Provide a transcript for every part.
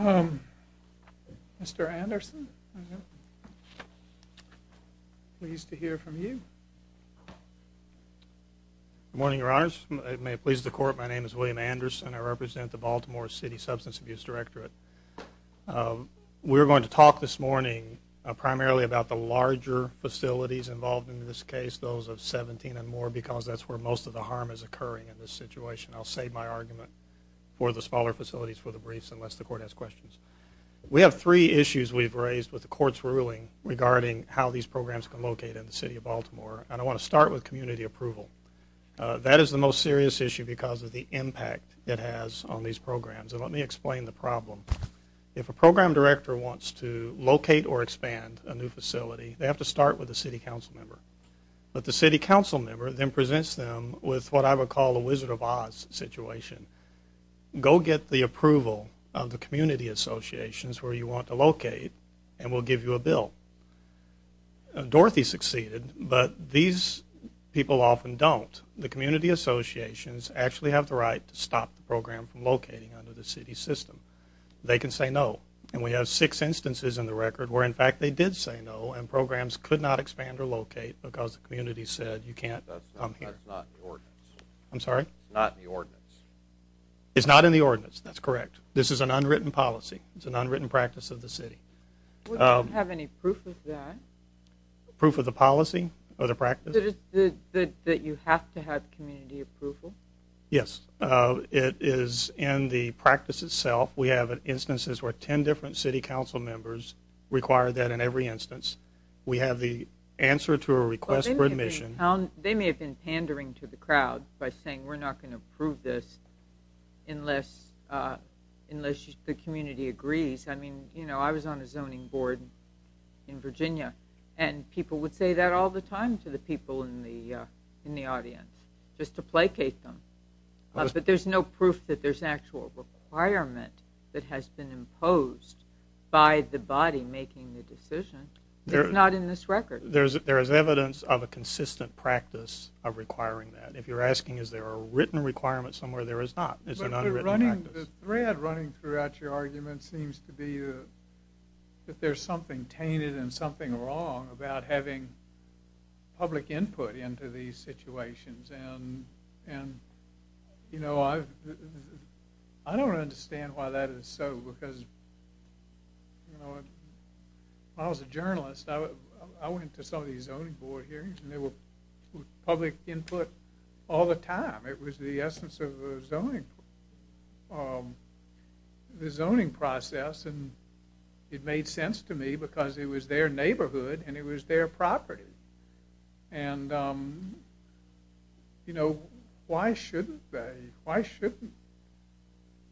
Mr. Anderson, pleased to hear from you. Good morning, Your Honors. May it please the Court, my name is William Anderson. I represent the Baltimore City Substance Abuse Directorate. We're going to talk this morning primarily about the larger facilities involved in this case, those of 17 and more, because that's where most of the harm is occurring in this situation. I'll save my argument for the smaller facilities for the briefs unless the Court has questions. We have three issues we've raised with the Court's ruling regarding how these programs can locate in the City of Baltimore, and I want to start with community approval. That is the most serious issue because of the impact it has on these programs, and let me explain the problem. If a program director wants to locate or expand a new facility, they have to start with a City Council member, but the City Council member then presents them with what I would call a Wizard of Oz situation. Go get the approval of the community associations where you want to locate, and we'll give you a bill. Dorothy succeeded, but these people often don't. The community associations actually have the right to stop the program from locating under the City's system. They can say no, and we have six instances in the record where, in fact, they did say no, and programs could not expand or locate because the community said you can't come here. That's not in the ordinance. I'm sorry? It's not in the ordinance. It's not in the ordinance. That's correct. This is an unwritten policy. It's an unwritten practice of the City. Would you have any proof of that? Proof of the policy or the practice? That you have to have community approval? Yes. It is in the practice itself. We have instances where 10 different City Council members require that in every instance. We have the answer to a request for admission. They may have been pandering to the crowd by saying we're not going to approve this unless the community agrees. I was on a zoning board in Virginia, and people would say that all the time to the people in the audience just to placate them. But there's no proof that there's an actual requirement that has been imposed by the body making the decision. It's not in this record. There is evidence of a consistent practice of requiring that. If you're asking is there a written requirement somewhere, there is not. It's an unwritten practice. The thread running throughout your argument seems to be that there's something tainted and something wrong about having public input into these situations. I don't understand why that is so. When I was a journalist, I went to some of these zoning board hearings, and there was public input all the time. It was the essence of the zoning process, and it made sense to me because it was their neighborhood and it was their property. Why shouldn't they? Why shouldn't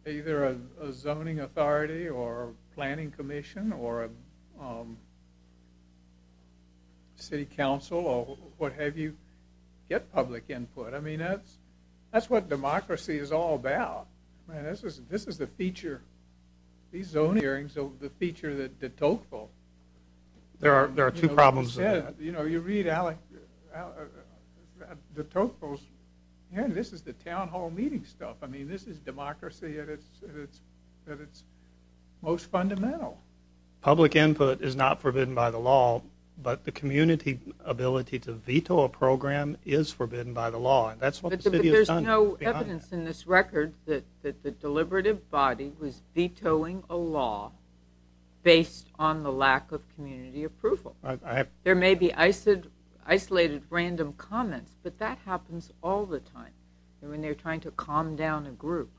either a zoning authority or a planning commission or a city council or what have you get public input? I mean, that's what democracy is all about. Man, this is the feature. These zoning hearings are the feature that de Tocqueville said. There are two problems with that. You know, you read de Tocqueville's, man, this is the town hall meeting stuff. I mean, this is democracy at its most fundamental. Public input is not forbidden by the law, but the community ability to veto a program is forbidden by the law, and that's what the city has done. But there's no evidence in this record that the deliberative body was vetoing a law based on the lack of community approval. There may be isolated random comments, but that happens all the time when they're trying to calm down a group.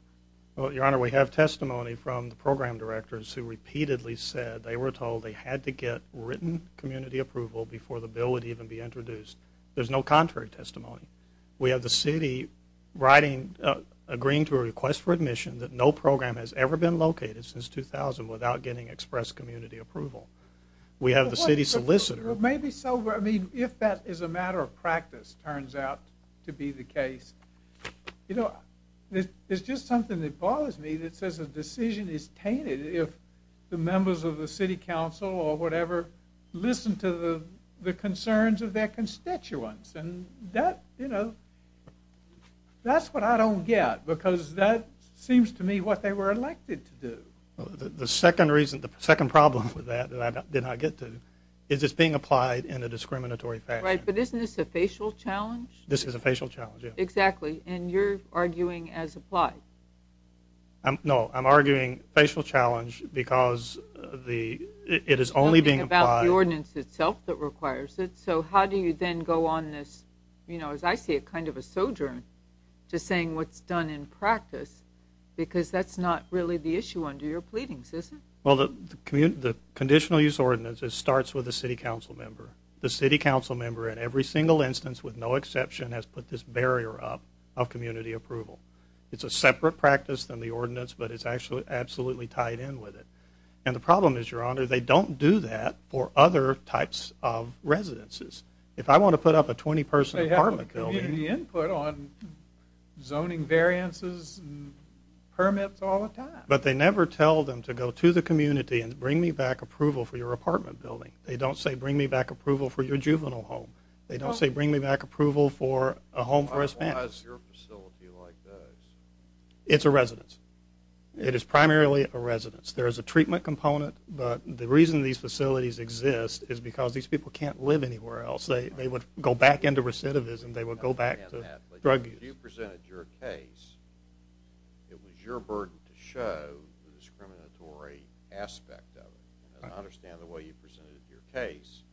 Well, Your Honor, we have testimony from the program directors who repeatedly said they were told they had to get written community approval before the bill would even be introduced. There's no contrary testimony. We have the city writing, agreeing to a request for admission that no program has ever been located since 2000 without getting express community approval. We have the city solicitor. Well, maybe so. I mean, if that is a matter of practice, turns out to be the case. You know, there's just something that bothers me that says a decision is tainted if the members of the city council or whatever listen to the concerns of their constituents, and that, you know, that's what I don't get because that seems to me what they were elected to do. The second reason, the second problem with that that I did not get to is it's being applied in a discriminatory fashion. Right, but isn't this a facial challenge? This is a facial challenge, yeah. Exactly. And you're arguing as applied. No, I'm arguing facial challenge because it is only being applied. Something about the ordinance itself that requires it. So how do you then go on this, you know, as I see it, kind of a sojourn to saying what's done in practice because that's not really the issue under your pleadings, is it? Well, the conditional use ordinance, it starts with the city council member. The city council member in every single instance with no exception has put this barrier up of community approval. It's a separate practice than the ordinance, but it's absolutely tied in with it. And the problem is, Your Honor, they don't do that for other types of residences. If I want to put up a 20-person apartment building... They have the input on zoning variances and permits all the time. But they never tell them to go to the community and bring me back approval for your apartment building. They don't say bring me back approval for your juvenile home. They don't say bring me back approval for a home for a Spanish. Why is your facility like this? It's a residence. It is primarily a residence. There is a treatment component. But the reason these facilities exist is because these people can't live anywhere else. They would go back into recidivism. They would go back to drug use. If you presented your case, it was your burden to show the discriminatory aspect of it. I understand the way you presented your case.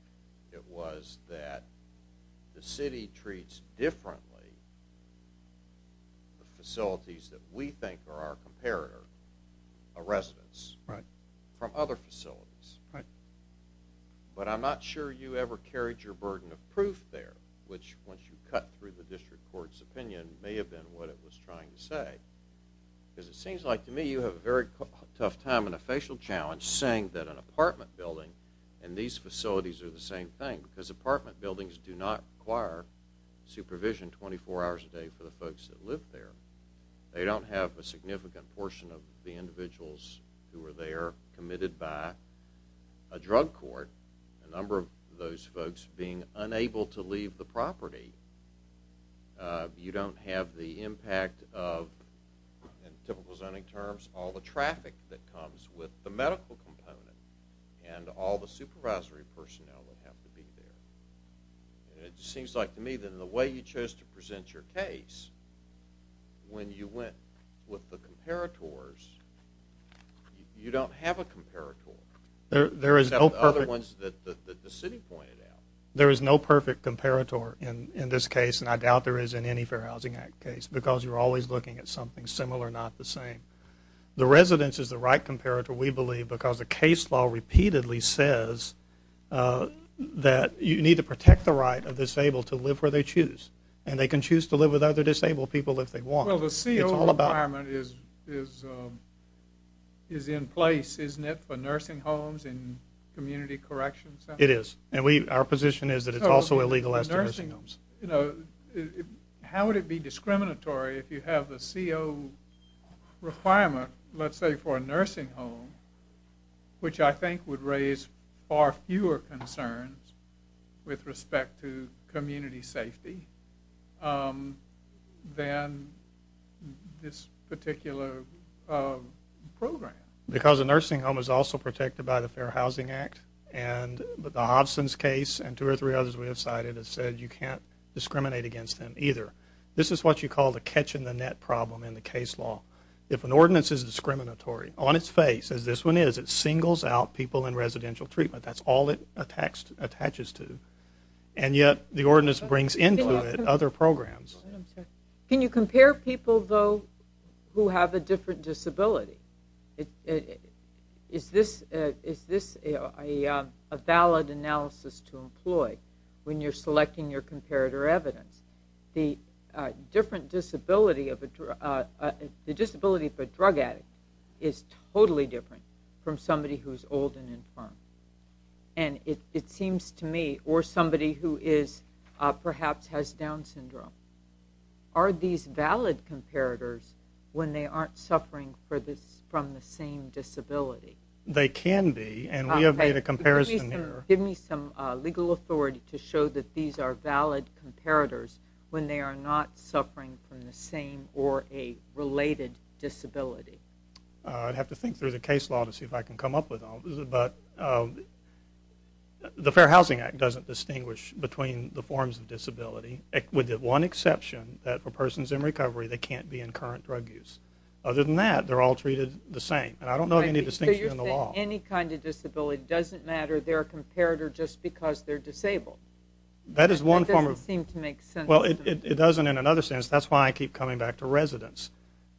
It was that the city treats differently the facilities that we think are our comparator, a residence, from other facilities. But I'm not sure you ever carried your burden of proof there, which, once you cut through the district court's opinion, may have been what it was trying to say. Because it seems like to me you have a very tough time in a facial challenge saying that an apartment building and these facilities are the same thing. Because apartment buildings do not require supervision 24 hours a day for the folks that live there. They don't have a significant portion of the individuals who are there committed by a drug court, a number of those folks being unable to leave the property. You don't have the impact of, in typical zoning terms, all the traffic that comes with the medical component and all the supervisory personnel that have to be there. It seems like to me that in the way you chose to present your case, when you went with the comparators, you don't have a comparator. You have the other ones that the city pointed out. There is no perfect comparator in this case, and I doubt there is in any Fair Housing Act case, because you're always looking at something similar, not the same. The residence is the right comparator, we believe, because the case law repeatedly says that you need to protect the right of the disabled to live where they choose. And they can choose to live with other disabled people if they want. Well, the CO requirement is in place, isn't it, for nursing homes and community correction centers? It is. And our position is that it's also illegal in nursing homes. How would it be discriminatory if you have the CO requirement, let's say, for a nursing home, which I think would raise far fewer concerns with respect to community safety than this particular program? Because a nursing home is also protected by the Fair Housing Act, but the Hobson's case and two or three others we have cited have said you can't discriminate against them either. This is what you call the catch-in-the-net problem in the case law. If an ordinance is discriminatory on its face, as this one is, it singles out people in residential treatment. That's all it attaches to. And yet the ordinance brings into it other programs. Can you compare people, though, who have a different disability? Is this a valid analysis to employ when you're selecting your comparator evidence? The disability of a drug addict is totally different from somebody who's old and infirm. And it seems to me, or somebody who perhaps has Down syndrome, are these valid comparators when they aren't suffering from the same disability? They can be, and we have made a comparison here. Give me some legal authority to show that these are valid comparators when they are not suffering from the same or a related disability. I'd have to think through the case law to see if I can come up with all this, but the Fair Housing Act doesn't distinguish between the forms of disability. With the one exception that for persons in recovery, they can't be in current drug use. Other than that, they're all treated the same. And I don't know of any distinction in the law. So you're saying any kind of disability doesn't matter, they're a comparator just because they're disabled. That doesn't seem to make sense. Well, it doesn't in another sense. That's why I keep coming back to residents.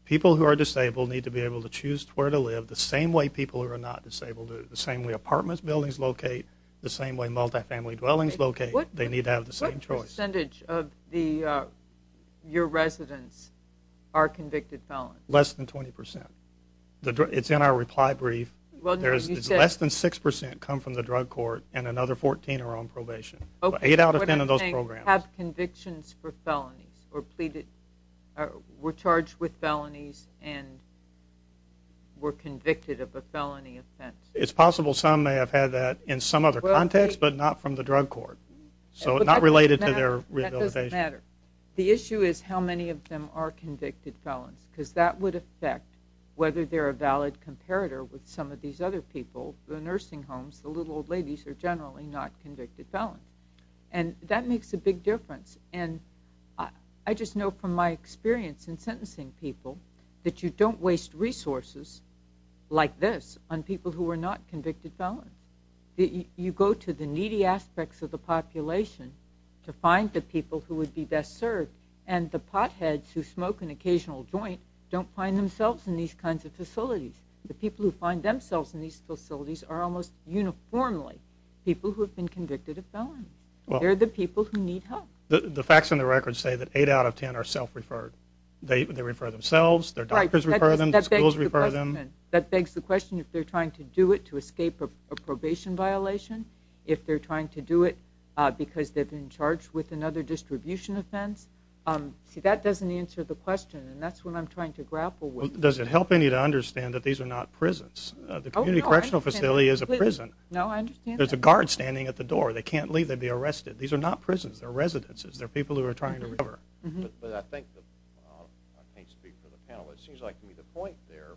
People who are disabled need to be able to choose where to live the same way people who are not disabled do, the same way apartment buildings locate, the same way multifamily dwellings locate. They need to have the same choice. What percentage of your residents are convicted felons? Less than 20 percent. It's in our reply brief. It's less than 6 percent come from the drug court and another 14 are on probation. Eight out of 10 of those programs. Okay. What if they have convictions for felonies or were charged with felonies and were convicted of a felony offense? It's possible some may have had that in some other context but not from the drug court. So not related to their rehabilitation. That doesn't matter. The issue is how many of them are convicted felons because that would affect whether they're a valid comparator with some of these other people. The nursing homes, the little old ladies are generally not convicted felons. And that makes a big difference. And I just know from my experience in sentencing people that you don't waste resources like this on people who are not convicted felons. You go to the needy aspects of the population to find the people who would be best served, and the potheads who smoke an occasional joint don't find themselves in these kinds of facilities. The people who find themselves in these facilities are almost uniformly people who have been convicted of felonies. They're the people who need help. The facts on the record say that eight out of 10 are self-referred. They refer themselves, their doctors refer them, their schools refer them. That begs the question if they're trying to do it to escape a probation violation, if they're trying to do it because they've been charged with another distribution offense. See, that doesn't answer the question, and that's what I'm trying to grapple with. Does it help any to understand that these are not prisons? The community correctional facility is a prison. No, I understand that. There's a guard standing at the door. They can't leave. They'd be arrested. These are not prisons. They're residences. They're people who are trying to recover. I can't speak for the panel. It seems like to me the point there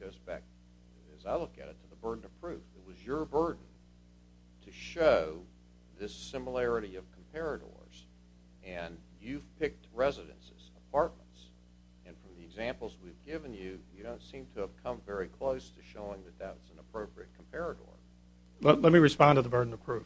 goes back, as I look at it, to the burden of proof. It was your burden to show this similarity of comparators, and you've picked residences, apartments, and from the examples we've given you, you don't seem to have come very close to showing that that's an appropriate comparator. Let me respond to the burden of proof.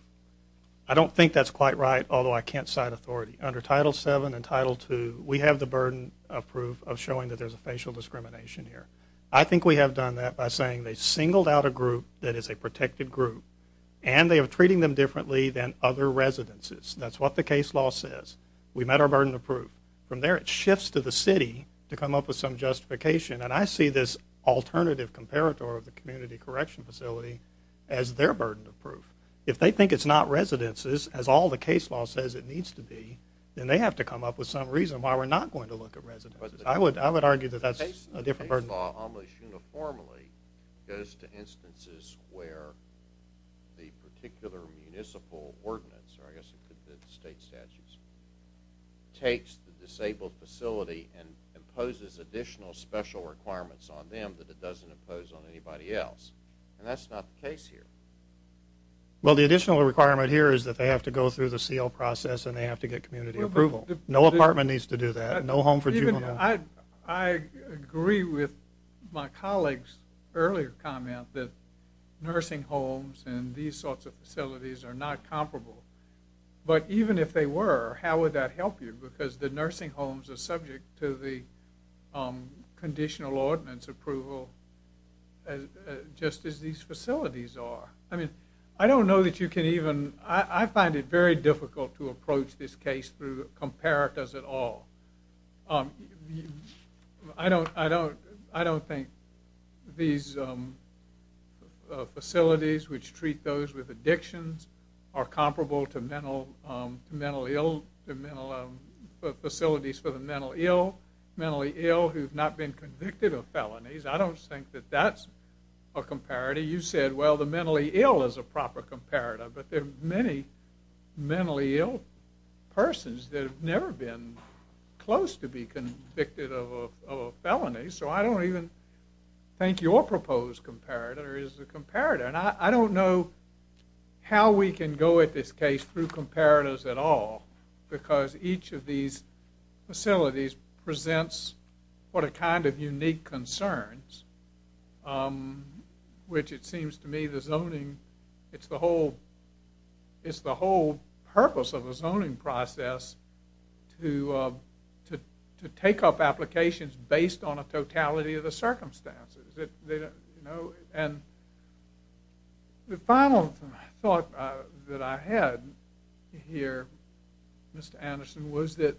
I don't think that's quite right, although I can't cite authority. Under Title VII and Title II, we have the burden of proof of showing that there's a facial discrimination here. I think we have done that by saying they singled out a group that is a protected group, and they are treating them differently than other residences. That's what the case law says. We met our burden of proof. From there, it shifts to the city to come up with some justification, and I see this alternative comparator of the community correction facility as their burden of proof. If they think it's not residences, as all the case law says it needs to be, then they have to come up with some reason why we're not going to look at residences. I would argue that that's a different burden. The case law almost uniformly goes to instances where the particular municipal ordinance, or I guess it could be the state statutes, takes the disabled facility and imposes additional special requirements on them that it doesn't impose on anybody else, and that's not the case here. Well, the additional requirement here is that they have to go through the seal process and they have to get community approval. No apartment needs to do that. No home for juvenile. I agree with my colleague's earlier comment that nursing homes and these sorts of facilities are not comparable. But even if they were, how would that help you? Because the nursing homes are subject to the conditional ordinance approval just as these facilities are. I mean, I don't know that you can even... I find it very difficult to approach this case through comparators at all. I don't think these facilities, which treat those with addictions, are comparable to facilities for the mentally ill who have not been convicted of felonies. I don't think that that's a comparator. You said, well, the mentally ill is a proper comparator, but there are many mentally ill persons that have never been close to be convicted of a felony, so I don't even think your proposed comparator is a comparator. And I don't know how we can go at this case through comparators at all because each of these facilities presents what a kind of unique concerns, which it seems to me the zoning, it's the whole purpose of the zoning process to take up applications based on a totality of the circumstances. And the final thought that I had here, Mr. Anderson, was that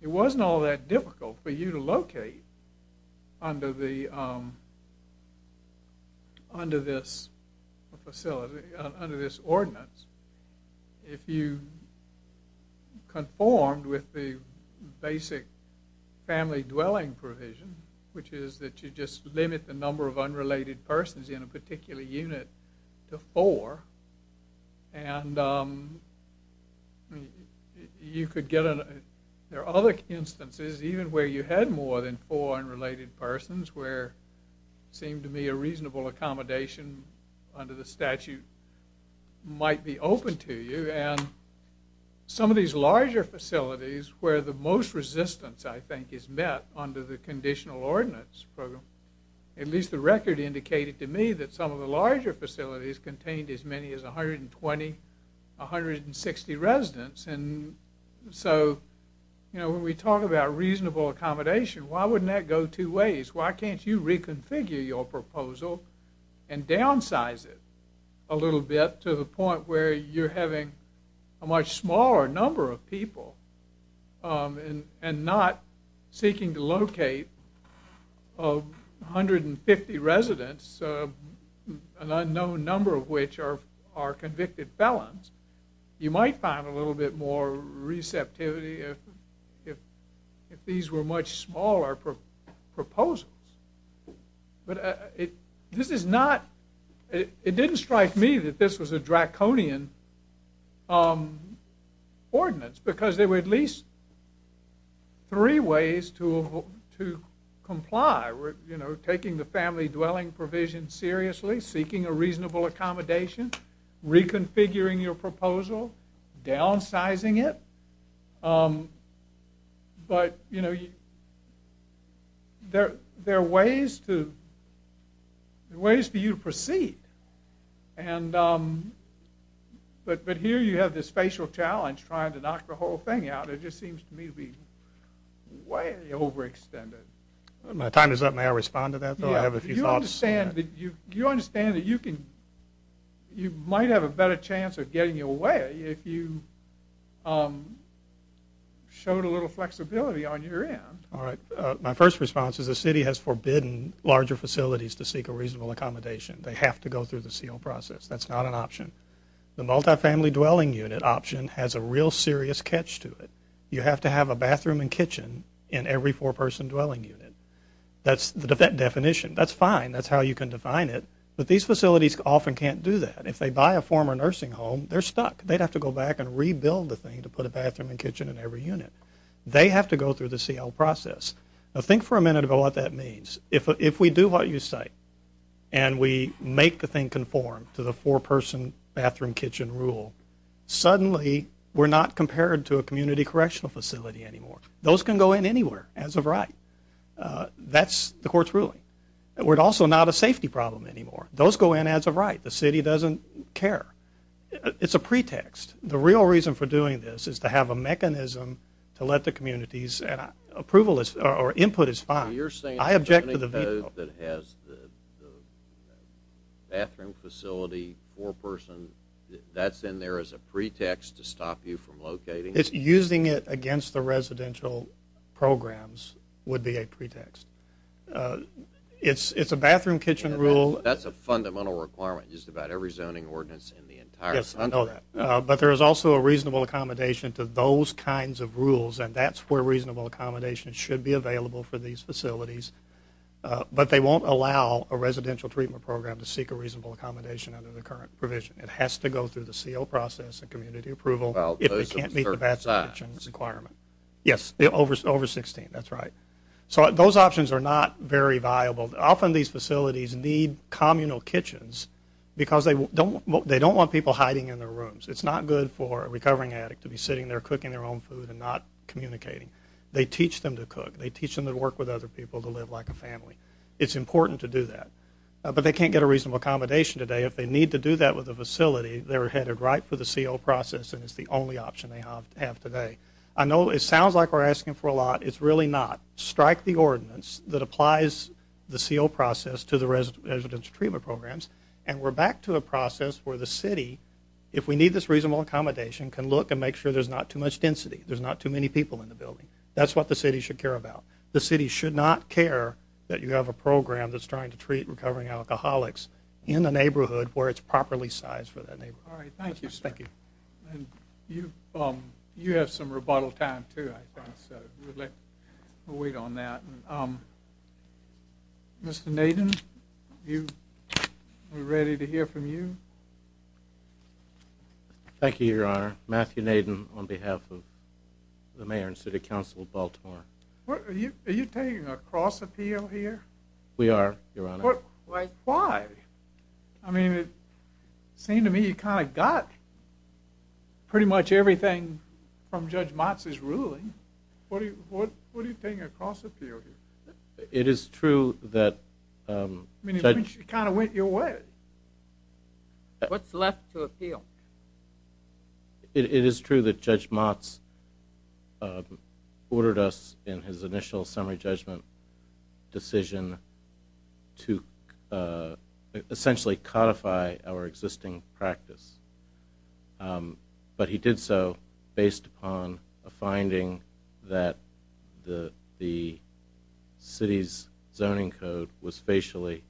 it wasn't all that difficult for you to locate under this facility, under this ordinance if you conformed with the basic family dwelling provision, which is that you just limit the number of unrelated persons in a particular unit to four. And there are other instances even where you had more than four unrelated persons where it seemed to me a reasonable accommodation under the statute might be open to you. And some of these larger facilities where the most resistance, I think, is met under the conditional ordinance program, at least the record indicated to me that some of the larger facilities contained as many as 120, 160 residents. And so when we talk about reasonable accommodation, why wouldn't that go two ways? Why can't you reconfigure your proposal and downsize it a little bit to the point where you're having a much smaller number of people and not seeking to locate 150 residents, an unknown number of which are convicted felons, you might find a little bit more receptivity if these were much smaller proposals. It didn't strike me that this was a draconian ordinance because there were at least three ways to comply. Taking the family dwelling provision seriously, seeking a reasonable accommodation, reconfiguring your proposal, downsizing it. But here you have this facial challenge trying to knock the whole thing out. It just seems to me to be way overextended. My time is up. May I respond to that, though? I have a few thoughts. Do you understand that you might have a better chance of getting away if you showed a little flexibility on your end? My first response is the city has forbidden larger facilities to seek a reasonable accommodation. They have to go through the CL process. That's not an option. The multifamily dwelling unit option has a real serious catch to it. You have to have a bathroom and kitchen in every four-person dwelling unit. That's the definition. That's fine. That's how you can define it. But these facilities often can't do that. If they buy a former nursing home, they're stuck. They'd have to go back and rebuild the thing to put a bathroom and kitchen in every unit. They have to go through the CL process. Now think for a minute about what that means. If we do what you say and we make the thing conform to the four-person bathroom-kitchen rule, suddenly we're not compared to a community correctional facility anymore. Those can go in anywhere as of right. That's the court's ruling. We're also not a safety problem anymore. Those go in as of right. The city doesn't care. It's a pretext. The real reason for doing this is to have a mechanism to let the communities and approval or input is fine. So you're saying the zoning code that has the bathroom facility, four-person, that's in there as a pretext to stop you from locating it? Using it against the residential programs would be a pretext. It's a bathroom-kitchen rule. That's a fundamental requirement in just about every zoning ordinance in the entire country. Yes, I know that. But there is also a reasonable accommodation to those kinds of rules, and that's where reasonable accommodation should be available for these facilities. But they won't allow a residential treatment program to seek a reasonable accommodation under the current provision. It has to go through the CO process and community approval if it can't meet the bathroom-kitchen requirement. Yes, over 16, that's right. So those options are not very viable. Often these facilities need communal kitchens because they don't want people hiding in their rooms. It's not good for a recovering addict to be sitting there cooking their own food and not communicating. They teach them to cook. They teach them to work with other people, to live like a family. It's important to do that. But they can't get a reasonable accommodation today. If they need to do that with a facility, they're headed right for the CO process, and it's the only option they have today. I know it sounds like we're asking for a lot. It's really not. Strike the ordinance that applies the CO process to the residential treatment programs, and we're back to a process where the city, if we need this reasonable accommodation, can look and make sure there's not too much density, there's not too many people in the building. That's what the city should care about. The city should not care that you have a program that's trying to treat recovering alcoholics in a neighborhood where it's properly sized for that neighborhood. All right, thank you, sir. Thank you. You have some rebuttal time too, I think, so we'll wait on that. Mr. Nadin, we're ready to hear from you. Thank you, Your Honor. Matthew Nadin on behalf of the mayor and city council of Baltimore. Are you taking a cross appeal here? We are, Your Honor. Why? I mean, it seemed to me you kind of got pretty much everything from Judge Motz's ruling. What are you taking a cross appeal here? It is true that Judge Motz ordered us in his initial summary judgment decision to essentially codify our existing practice, but he did so based upon a finding that the city's zoning code was facially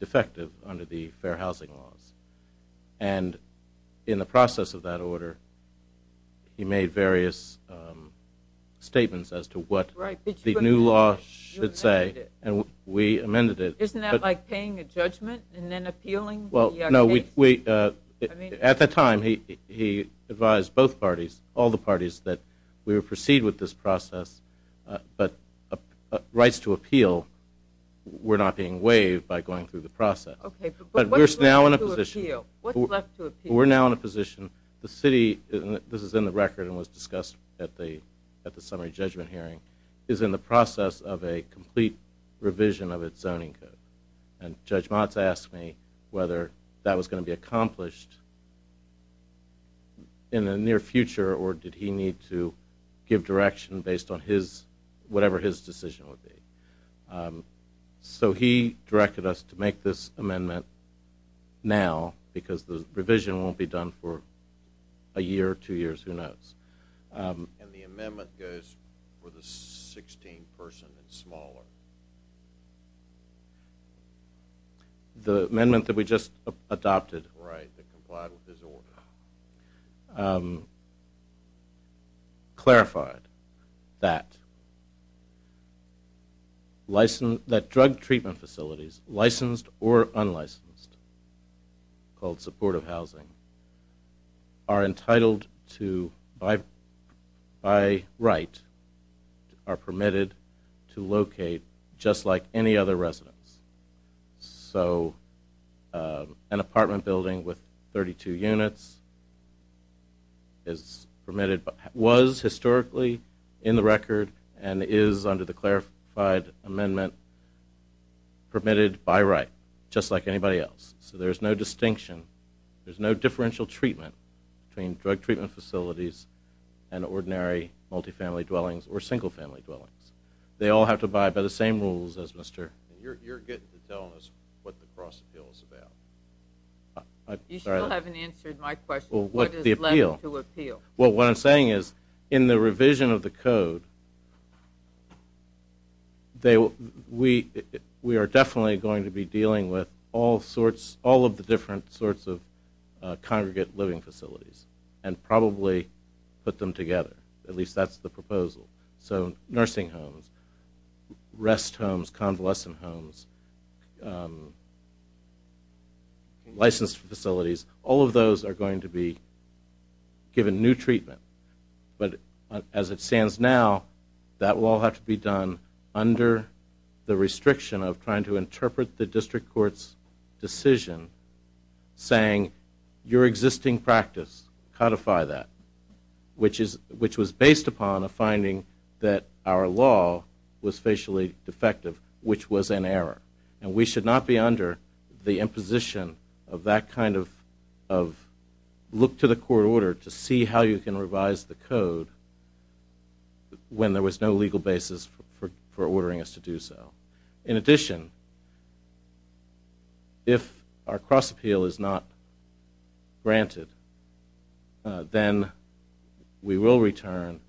defective under the fair housing laws. And in the process of that order, he made various statements as to what the new law should say, and we amended it. Isn't that like paying a judgment and then appealing the case? No. At the time, he advised both parties, all the parties, that we would proceed with this process, but rights to appeal were not being waived by going through the process. But we're now in a position. What's left to appeal? We're now in a position. The city, and this is in the record and was discussed at the summary judgment hearing, is in the process of a complete revision of its zoning code. And Judge Motz asked me whether that was going to be accomplished in the near future or did he need to give direction based on whatever his decision would be. So he directed us to make this amendment now because the revision won't be done for a year, two years, who knows. And the amendment goes for the 16 person and smaller. The amendment that we just adopted. Right, that complied with his order. Clarified that drug treatment facilities, licensed or unlicensed, called supportive housing, are entitled to, by right, are permitted to locate just like any other residence. So an apartment building with 32 units was historically in the record and is under the clarified amendment permitted by right, just like anybody else. So there's no distinction, there's no differential treatment between drug treatment facilities and ordinary multifamily dwellings or single family dwellings. They all have to abide by the same rules as Mr. You're getting to tell us what the cross appeal is about. You still haven't answered my question. What is left to appeal? Well, what I'm saying is in the revision of the code, we are definitely going to be dealing with all sorts, all of the different sorts of congregate living facilities and probably put them together, at least that's the proposal. So nursing homes, rest homes, convalescent homes, licensed facilities, all of those are going to be given new treatment. But as it stands now, that will all have to be done under the restriction of trying to interpret the district court's decision saying your existing practice, codify that, which was based upon a finding that our law was facially defective, which was an error. And we should not be under the imposition of that kind of look to the court order to see how you can revise the code when there was no legal basis for ordering us to do so. In addition, if our cross appeal is not granted, then we will return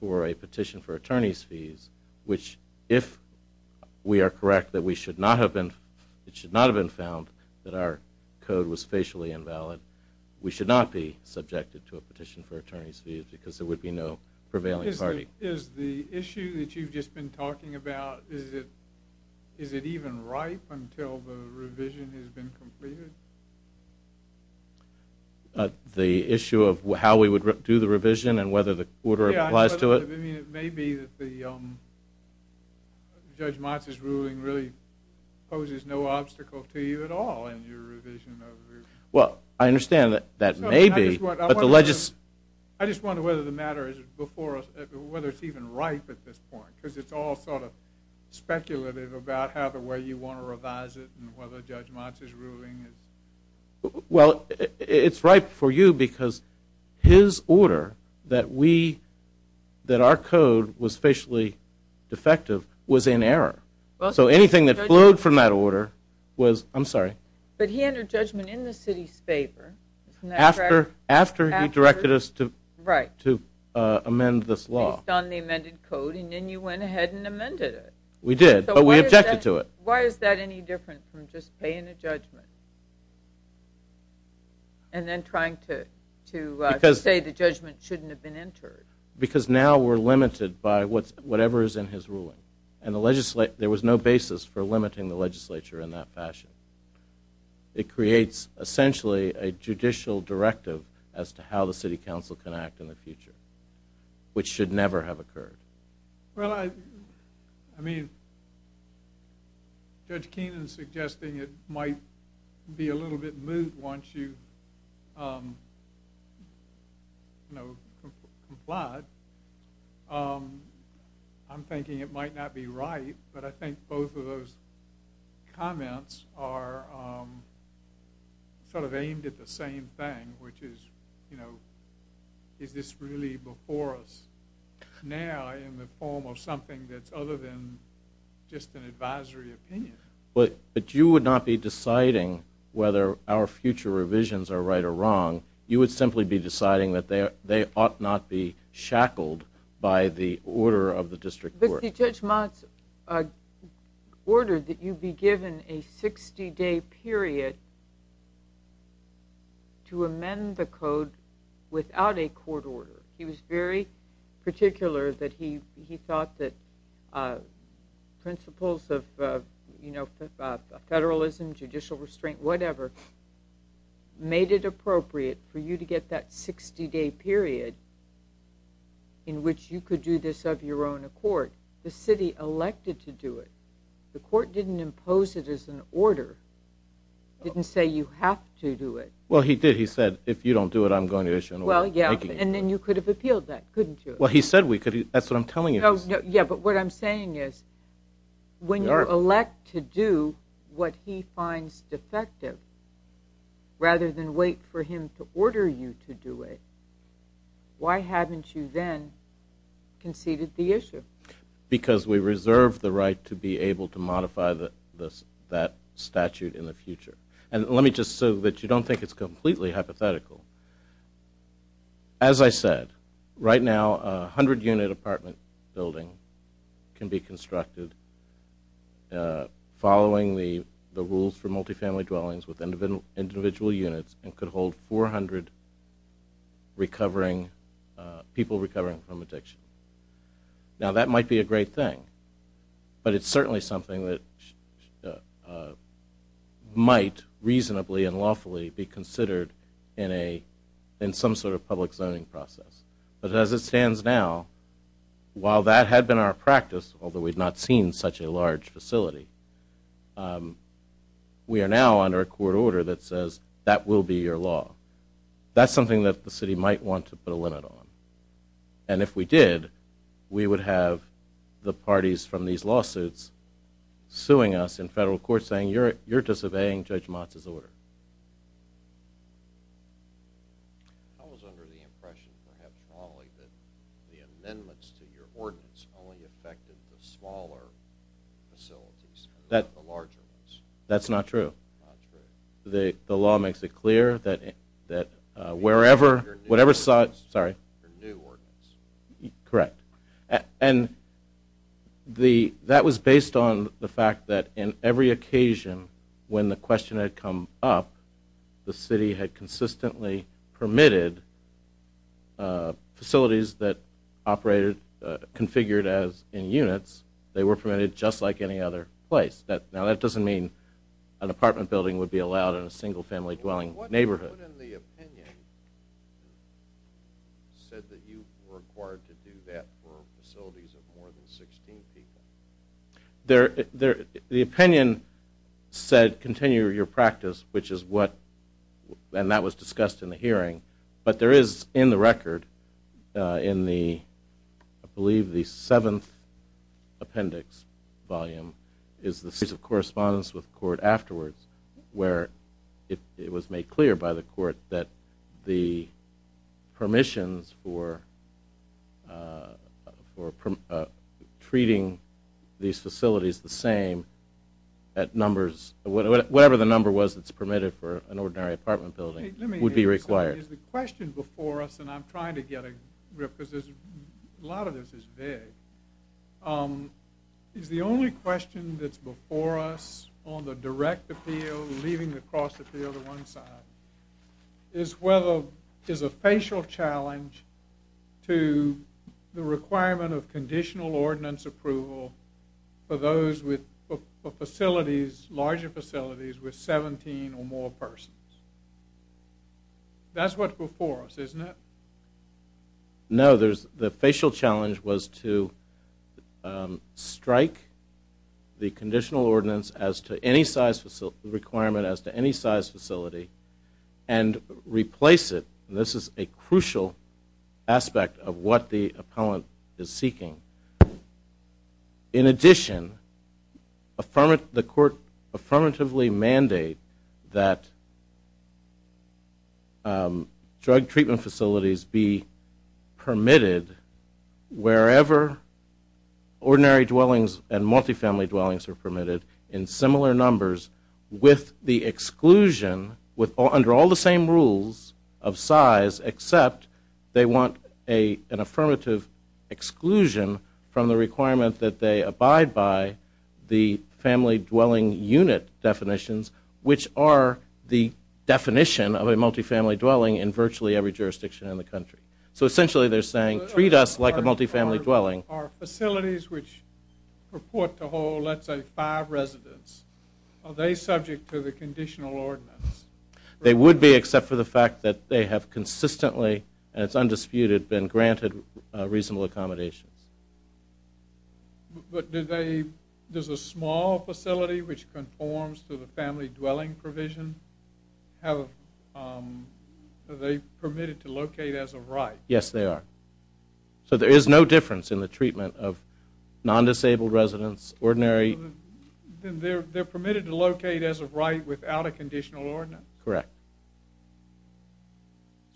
for a petition for attorney's fees, which if we are correct that it should not have been found that our code was facially invalid, but we should not be subjected to a petition for attorney's fees because there would be no prevailing party. Is the issue that you've just been talking about, is it even ripe until the revision has been completed? The issue of how we would do the revision and whether the order applies to it? Yeah, I mean it may be that Judge Motz's ruling really poses no obstacle to you at all in your revision of the ruling. Well, I understand that that may be. I just wonder whether the matter is before us, whether it's even ripe at this point, because it's all sort of speculative about how the way you want to revise it and whether Judge Motz's ruling is. Well, it's ripe for you because his order that our code was facially defective was in error. So anything that flowed from that order was, I'm sorry. But he entered judgment in the city's favor. After he directed us to amend this law. Based on the amended code, and then you went ahead and amended it. We did, but we objected to it. Why is that any different from just paying a judgment and then trying to say the judgment shouldn't have been entered? Because now we're limited by whatever is in his ruling, and there was no basis for limiting the legislature in that fashion. It creates essentially a judicial directive as to how the city council can act in the future, which should never have occurred. Well, I mean, Judge Keenan's suggesting it might be a little bit moot once you've complied. I'm thinking it might not be right, but I think both of those comments are sort of aimed at the same thing, which is, you know, is this really before us now in the form of something that's other than just an advisory opinion? But you would not be deciding whether our future revisions are right or wrong. You would simply be deciding that they ought not be shackled by the order of the district court. But Judge Motz ordered that you be given a 60-day period to amend the code without a court order. He was very particular that he thought that principles of, you know, federalism, judicial restraint, whatever, made it appropriate for you to get that 60-day period in which you could do this of your own accord. The city elected to do it. The court didn't impose it as an order. It didn't say you have to do it. Well, he did. He said, if you don't do it, I'm going to issue an order. Well, yeah, and then you could have appealed that, couldn't you? Well, he said we could. That's what I'm telling you. Yeah, but what I'm saying is when you elect to do what he finds defective rather than wait for him to order you to do it, why haven't you then conceded the issue? Because we reserve the right to be able to modify that statute in the future. And let me just say that you don't think it's completely hypothetical. As I said, right now a 100-unit apartment building can be constructed following the rules for multifamily dwellings with individual units and could hold 400 people recovering from addiction. Now, that might be a great thing, but it's certainly something that might reasonably and lawfully be considered in some sort of public zoning process. But as it stands now, while that had been our practice, although we'd not seen such a large facility, we are now under a court order that says that will be your law. That's something that the city might want to put a limit on. And if we did, we would have the parties from these lawsuits suing us in federal court saying you're disobeying Judge Motz's order. I was under the impression, perhaps wrongly, that the amendments to your ordinance only affected the smaller facilities, not the larger ones. That's not true. Not true. The law makes it clear that wherever, whatever size, sorry. Your new ordinance. Correct. And that was based on the fact that in every occasion, when the question had come up, the city had consistently permitted facilities that operated, configured as in units, they were permitted just like any other place. Now that doesn't mean an apartment building would be allowed in a single-family dwelling neighborhood. What in the opinion said that you were required to do that for facilities of more than 16 people? The opinion said continue your practice, which is what, and that was discussed in the hearing, but there is in the record in the, I believe the seventh appendix volume, is the series of correspondence with the court afterwards where it was made clear by the court that the permissions for treating these facilities the same at numbers, whatever the number was that's permitted for an ordinary apartment building, would be required. Is the question before us, and I'm trying to get a grip because a lot of this is vague, is the only question that's before us on the direct appeal, leaving the cross appeal to one side, is whether there's a facial challenge to the requirement of conditional ordinance approval for those with facilities, larger facilities with 17 or more persons. That's what's before us, isn't it? No, the facial challenge was to strike the conditional ordinance as to any size requirement as to any size facility and replace it, and this is a crucial aspect of what the appellant is seeking. In addition, the court affirmatively mandate that drug treatment facilities be permitted wherever ordinary dwellings and multifamily dwellings are permitted in similar numbers with the exclusion under all the same rules of size except they want an affirmative exclusion from the requirement that they abide by the family dwelling unit definitions, which are the definition of a multifamily dwelling in virtually every jurisdiction in the country. So essentially they're saying treat us like a multifamily dwelling. Are facilities which purport to hold, let's say, five residents, are they subject to the conditional ordinance? They would be except for the fact that they have consistently, and it's undisputed, been granted reasonable accommodations. But does a small facility which conforms to the family dwelling provision, are they permitted to locate as of right? Yes, they are. So there is no difference in the treatment of non-disabled residents, ordinary. They're permitted to locate as of right without a conditional ordinance? Correct.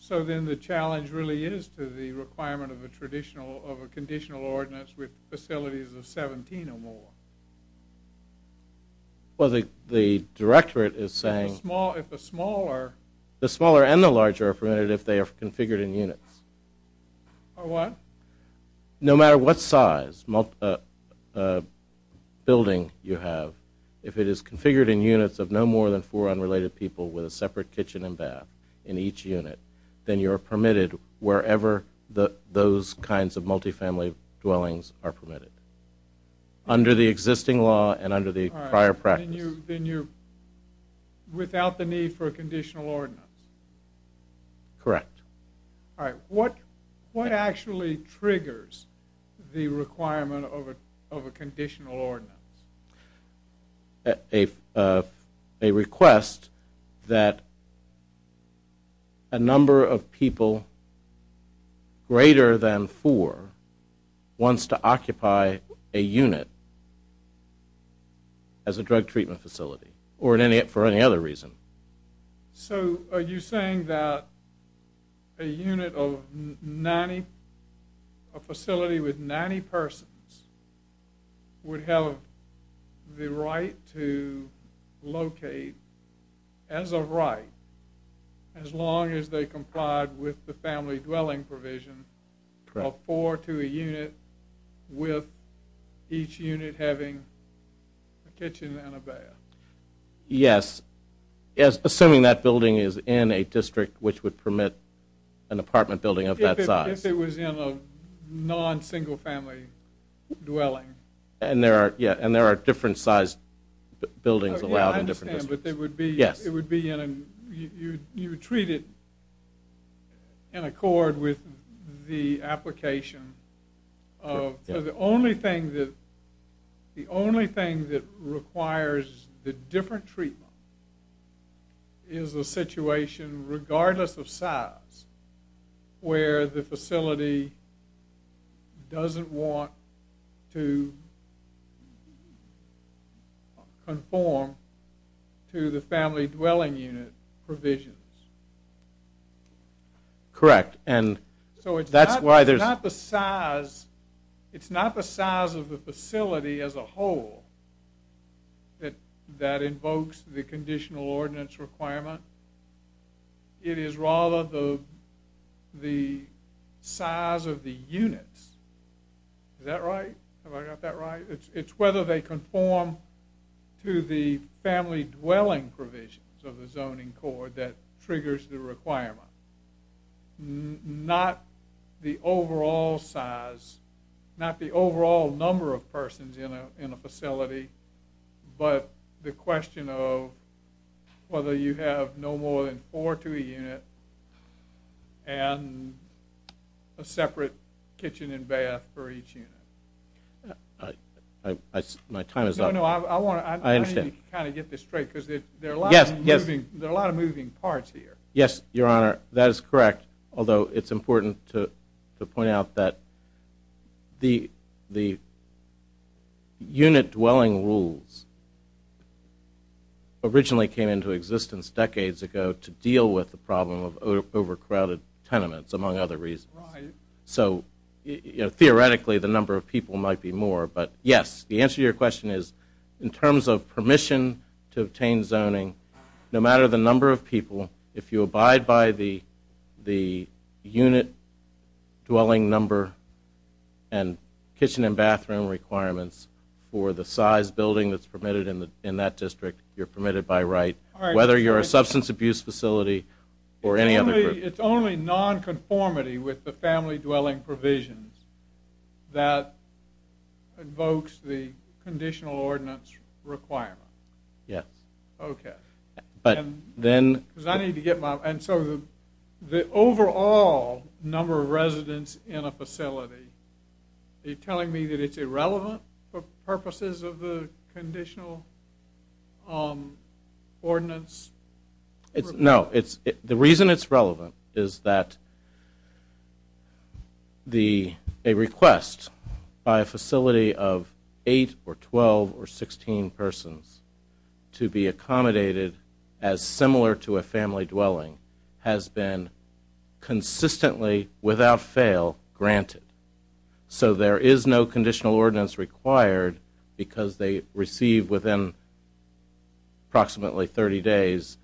So then the challenge really is to the requirement of a conditional ordinance with facilities of 17 or more? Well, the directorate is saying the smaller and the larger are permitted if they are configured in units. Are what? No matter what size building you have, if it is configured in units of no more than four unrelated people with a separate kitchen and bath in each unit, then you are permitted wherever those kinds of multifamily dwellings are permitted, under the existing law and under the prior practice. Then you're without the need for a conditional ordinance? Correct. All right. What actually triggers the requirement of a conditional ordinance? A request that a number of people greater than four wants to occupy a unit as a drug treatment facility, or for any other reason. So are you saying that a unit of 90, a facility with 90 persons, would have the right to locate as of right as long as they complied with the family dwelling provision of four to a unit with each unit having a kitchen and a bath? Yes, assuming that building is in a district which would permit an apartment building of that size. If it was in a non-single family dwelling. And there are different sized buildings allowed in different districts. I understand, but it would be in a, you would treat it in accord with the application of, the only thing that requires the different treatment is a situation regardless of size where the facility doesn't want to conform to the family dwelling unit provisions. Correct. So it's not the size, it's not the size of the facility as a whole that invokes the conditional ordinance requirement. It is rather the size of the units. Is that right? Have I got that right? It's whether they conform to the family dwelling provisions of the zoning code that triggers the requirement. Not the overall size, not the overall number of persons in a facility, but the question of whether you have no more than four to a unit and a separate kitchen and bath for each unit. My time is up. No, no, I need to kind of get this straight because there are a lot of moving parts here. Yes, your honor, that is correct. Although it's important to point out that the unit dwelling rules originally came into existence decades ago to deal with the problem of overcrowded tenements, among other reasons. So theoretically the number of people might be more, but yes, the answer to your question is in terms of permission to obtain zoning, no matter the number of people, if you abide by the unit dwelling number and kitchen and bathroom requirements for the size building that's permitted in that district, you're permitted by right, whether you're a substance abuse facility or any other group. It's only nonconformity with the family dwelling provisions that invokes the conditional ordinance requirement. Yes. Okay. Because I need to get my... And so the overall number of residents in a facility, are you telling me that it's irrelevant for purposes of the conditional ordinance? No, the reason it's relevant is that a request by a facility of 8 or 12 or 16 persons to be accommodated as similar to a family dwelling has been consistently, without fail, granted. So there is no conditional ordinance required because they receive within approximately 30 days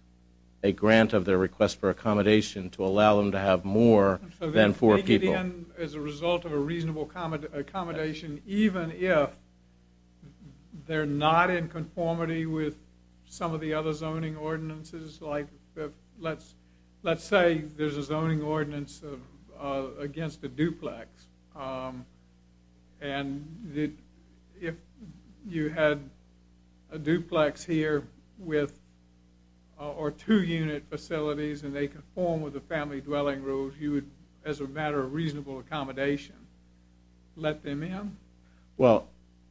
a grant of their request for accommodation to allow them to have more than four people. So they take it in as a result of a reasonable accommodation even if they're not in conformity with some of the other zoning ordinances. Like let's say there's a zoning ordinance against a duplex and if you had a duplex here with... or two-unit facilities and they conform with the family dwelling rules, you would, as a matter of reasonable accommodation, let them in? Well,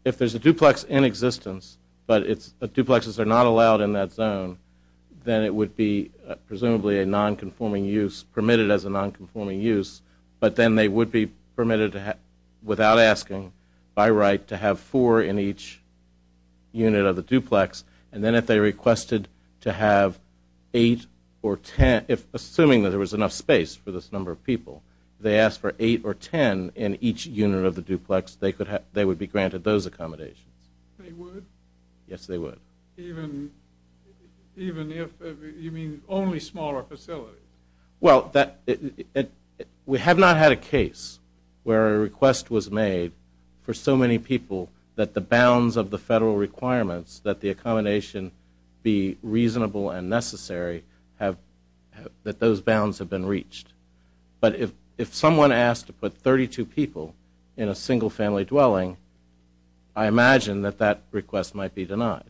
if there's a duplex in existence but duplexes are not allowed in that zone, then it would be presumably a non-conforming use, permitted as a non-conforming use, but then they would be permitted without asking by right to have four in each unit of the duplex and then if they requested to have 8 or 10, assuming that there was enough space for this number of people, they asked for 8 or 10 in each unit of the duplex, they would be granted those accommodations. They would? Yes, they would. Even if... you mean only smaller facilities? Well, we have not had a case where a request was made for so many people that the bounds of the federal requirements that the accommodation be reasonable and necessary that those bounds have been reached. But if someone asked to put 32 people in a single family dwelling, I imagine that that request might be denied.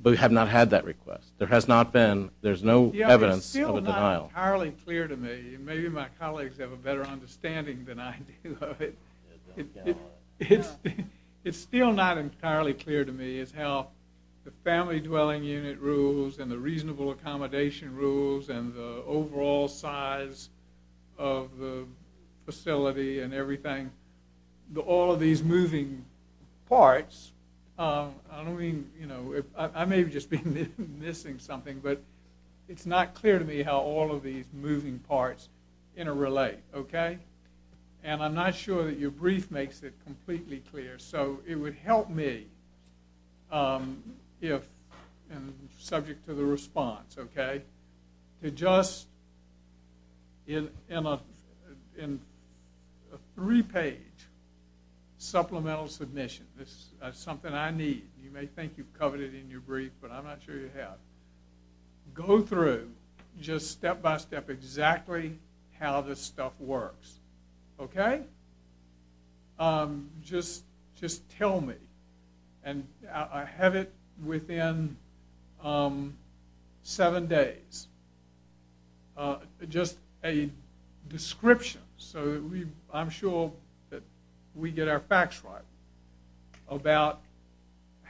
But we have not had that request. There has not been, there's no evidence of a denial. It's still not entirely clear to me, and maybe my colleagues have a better understanding than I do of it, it's still not entirely clear to me as how the family dwelling unit rules and the reasonable accommodation rules and the overall size of the facility and everything, all of these moving parts, I don't mean, you know, I may have just been missing something, but it's not clear to me how all of these moving parts interrelate, okay? And I'm not sure that your brief makes it completely clear, so it would help me if, subject to the response, okay, to just in a three-page supplemental submission, that's something I need, you may think you've covered it in your brief, but I'm not sure you have, go through just step-by-step exactly how this stuff works, okay? But just tell me, and I have it within seven days, just a description so that I'm sure that we get our facts right about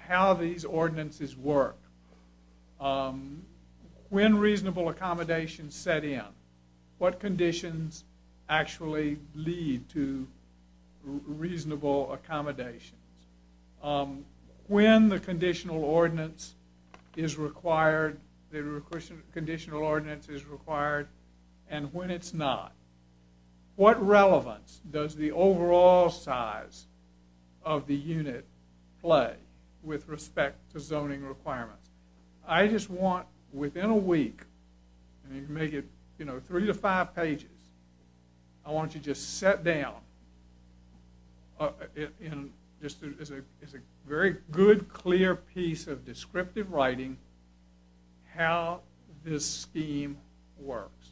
how these ordinances work, when reasonable accommodations set in, what conditions actually lead to reasonable accommodations, when the conditional ordinance is required, the conditional ordinance is required, and when it's not, what relevance does the overall size of the unit play with respect to zoning requirements? I just want, within a week, and you can make it three to five pages, I want you to just set down, just as a very good, clear piece of descriptive writing, how this scheme works,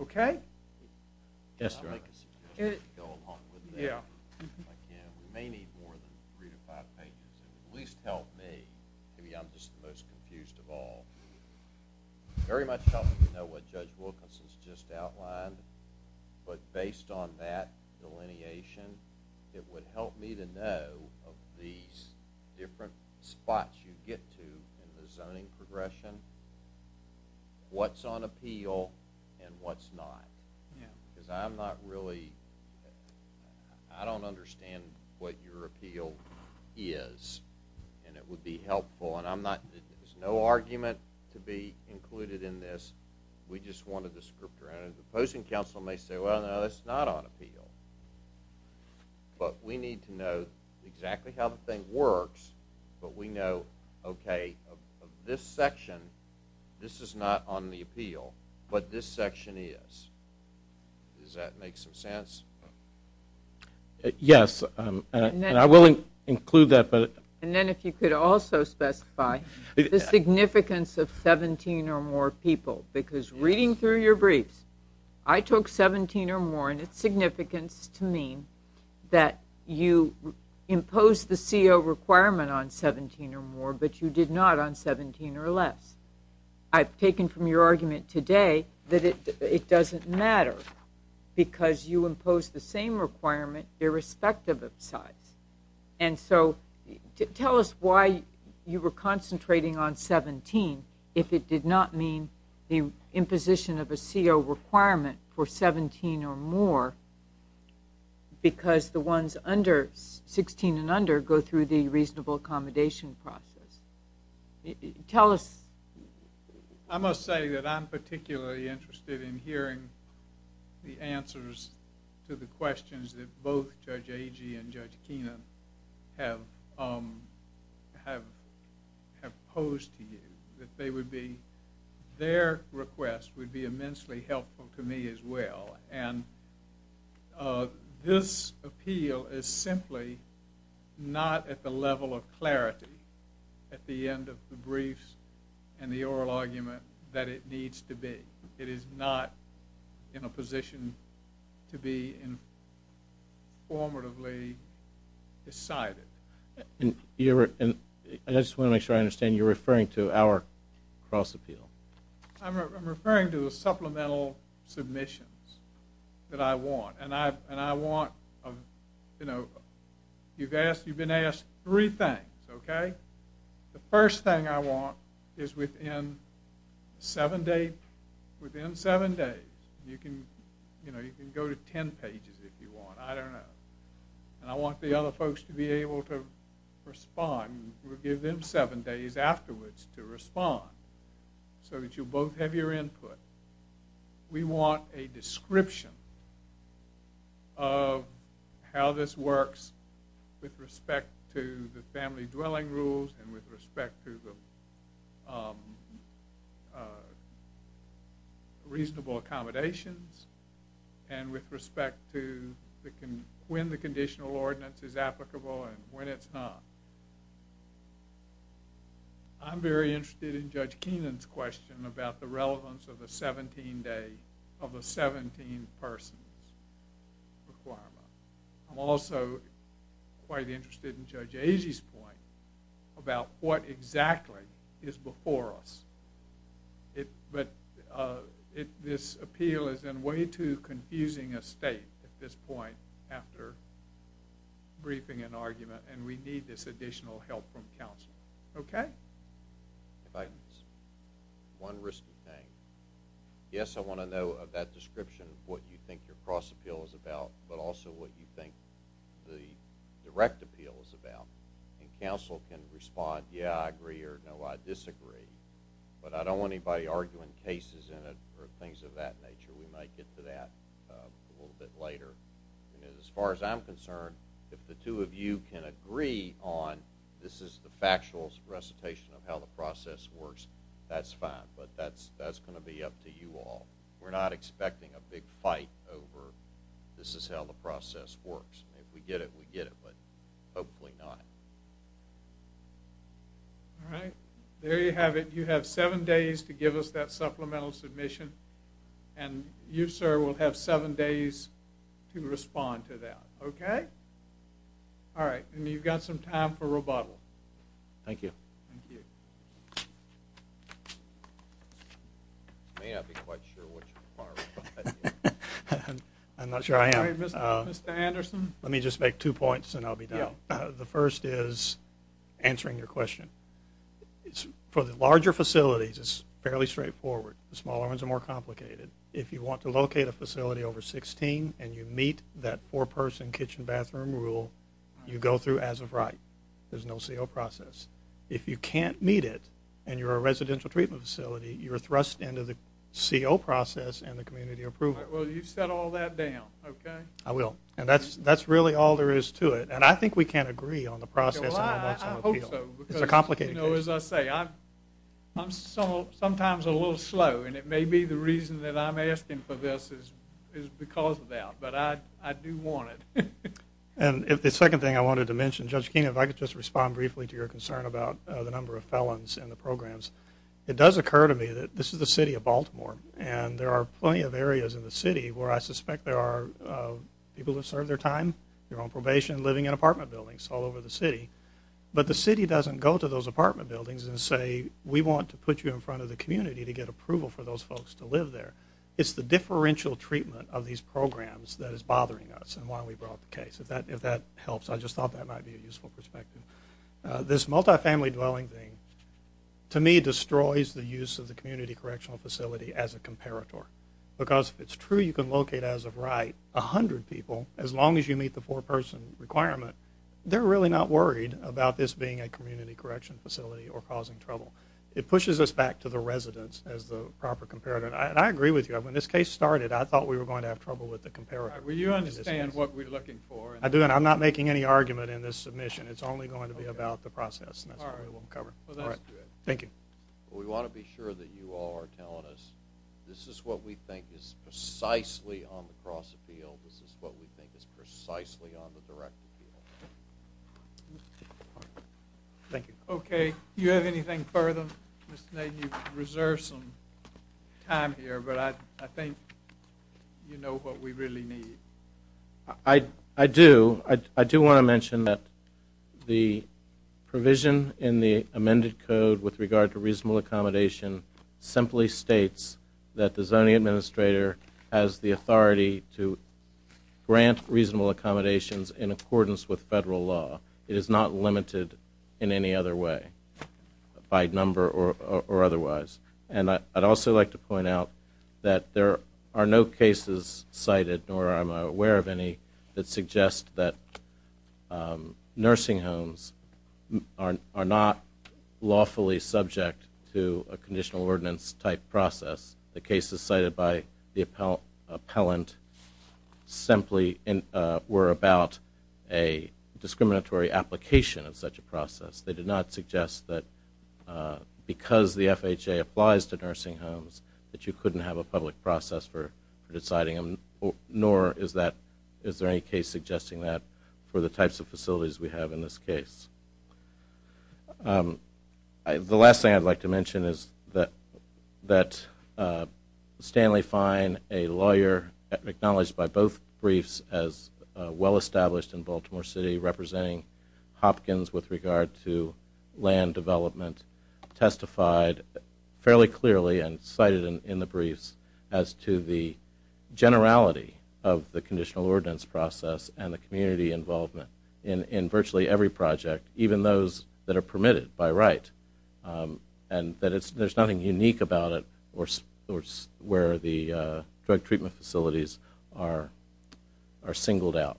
okay? Yes, sir? Yeah. We may need more than three to five pages, and it would at least help me, maybe I'm just the most confused of all, very much helpful to know what Judge Wilkinson's just outlined, but based on that delineation, it would help me to know of these different spots you get to in the zoning progression, what's on appeal and what's not. Yeah. Because I'm not really, I don't understand what your appeal is, and it would be helpful, and I'm not, there's no argument to be included in this, we just wanted the script around it. The opposing counsel may say, well, no, that's not on appeal. But we need to know exactly how the thing works, but we know, okay, of this section, this is not on the appeal, but this section is. Does that make some sense? Yes, and I will include that. And then if you could also specify the significance of 17 or more people, because reading through your briefs, I took 17 or more, and its significance to me that you impose the CO requirement on 17 or more, but you did not on 17 or less. I've taken from your argument today that it doesn't matter, because you impose the same requirement irrespective of size. And so tell us why you were concentrating on 17 if it did not mean the imposition of a CO requirement for 17 or more, because the ones under 16 and under go through the reasonable accommodation process. Tell us. I must say that I'm particularly interested in hearing the answers to the questions that both Judge Agee and Judge Keenan have posed to you, that their request would be immensely helpful to me as well. And this appeal is simply not at the level of clarity at the end of the briefs and the oral argument that it needs to be. It is not in a position to be informatively decided. And I just want to make sure I understand, you're referring to our cross-appeal. I'm referring to the supplemental submissions that I want, and I want, you know, you've been asked three things, okay? The first thing I want is within seven days. You can go to ten pages if you want. I don't know. And I want the other folks to be able to respond. We'll give them seven days afterwards to respond so that you'll both have your input. We want a description of how this works with respect to the family dwelling rules and with respect to the reasonable accommodations and with respect to when the conditional ordinance is applicable and when it's not. I'm very interested in Judge Keenan's question about the relevance of the 17-day, of the 17 persons requirement. I'm also quite interested in Judge Agee's point about what exactly is before us. But this appeal is in way too confusing a state at this point after briefing and argument, and we need this additional help from counsel, okay? If I could say one risky thing. Yes, I want to know of that description of what you think your cross-appeal is about, but also what you think the direct appeal is about. And counsel can respond, yeah, I agree, or no, I disagree. But I don't want anybody arguing cases in it or things of that nature. We might get to that a little bit later. And as far as I'm concerned, if the two of you can agree on this is the factual recitation of how the process works, that's fine. But that's going to be up to you all. We're not expecting a big fight over this is how the process works. If we get it, we get it, but hopefully not. All right, there you have it. You have seven days to give us that supplemental submission, and you, sir, will have seven days to respond to that, okay? All right, and you've got some time for rebuttal. Thank you. Thank you. I may not be quite sure what you want to reply to. I'm not sure I am. Mr. Anderson? Let me just make two points and I'll be done. The first is answering your question. For the larger facilities, it's fairly straightforward. The smaller ones are more complicated. If you want to locate a facility over 16 and you meet that four-person kitchen bathroom rule, you go through as of right. There's no CO process. If you can't meet it and you're a residential treatment facility, you're thrust into the CO process and the community approval. All right, well, you've set all that down, okay? I will. And that's really all there is to it. And I think we can agree on the process. Well, I hope so. It's a complicated case. You know, as I say, I'm sometimes a little slow, and it may be the reason that I'm asking for this is because of that, but I do want it. And the second thing I wanted to mention, and, Judge Keene, if I could just respond briefly to your concern about the number of felons in the programs. It does occur to me that this is the city of Baltimore, and there are plenty of areas in the city where I suspect there are people who have served their time, they're on probation, living in apartment buildings all over the city, but the city doesn't go to those apartment buildings and say, we want to put you in front of the community to get approval for those folks to live there. It's the differential treatment of these programs that is bothering us and why we brought the case. If that helps. I just thought that might be a useful perspective. This multifamily dwelling thing, to me, destroys the use of the community correctional facility as a comparator. Because if it's true you can locate, as of right, 100 people, as long as you meet the four-person requirement, they're really not worried about this being a community correction facility or causing trouble. It pushes us back to the residents as the proper comparator. And I agree with you. When this case started, I thought we were going to have trouble with the comparator. All right. Will you understand what we're looking for? I do. And I'm not making any argument in this submission. It's only going to be about the process. And that's what we want to cover. All right. Well, that's good. Thank you. We want to be sure that you all are telling us, this is what we think is precisely on the cross-appeal. This is what we think is precisely on the direct appeal. Thank you. Okay. Do you have anything further? Mr. Nagle, you've reserved some time here, but I think you know what we really need. I do. I do want to mention that the provision in the amended code with regard to reasonable accommodation simply states that the zoning administrator has the authority to grant reasonable accommodations in accordance with federal law. It is not limited in any other way by number or otherwise. And I'd also like to point out that there are no cases cited, nor am I aware of any, that suggest that nursing homes are not lawfully subject to a conditional ordinance-type process. The cases cited by the appellant simply were about a discriminatory application of such a process. They did not suggest that because the FHA applies to nursing homes that you couldn't have a public process for deciding them, nor is there any case suggesting that for the types of facilities we have in this case. The last thing I'd like to mention is that Stanley Fine, a lawyer acknowledged by both briefs as well-established in Baltimore City, representing Hopkins with regard to land development, testified fairly clearly and cited in the briefs as to the generality of the conditional ordinance process and the community involvement in virtually every project, even those that are permitted by right, and that there's nothing unique about it where the drug treatment facilities are singled out.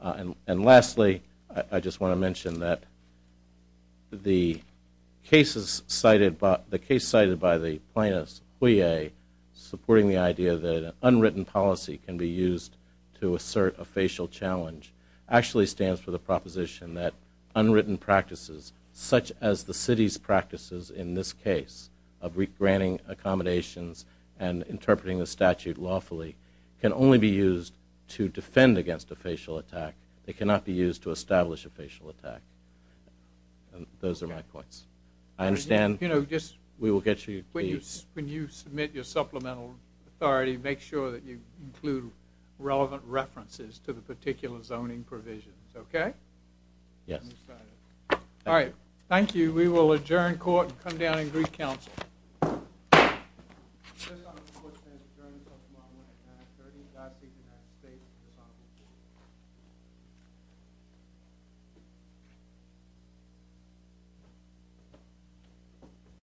And lastly, I just want to mention that the case cited by the plaintiff's plea, supporting the idea that an unwritten policy can be used to assert a facial challenge, actually stands for the proposition that unwritten practices, such as the city's practices in this case of re-granting accommodations and interpreting the statute lawfully, can only be used to defend against a facial attack. They cannot be used to establish a facial attack. Those are my points. I understand we will get you the... When you submit your supplemental authority, make sure that you include relevant references to the particular zoning provisions, okay? Yes. All right, thank you. We will adjourn court and come down and greet counsel.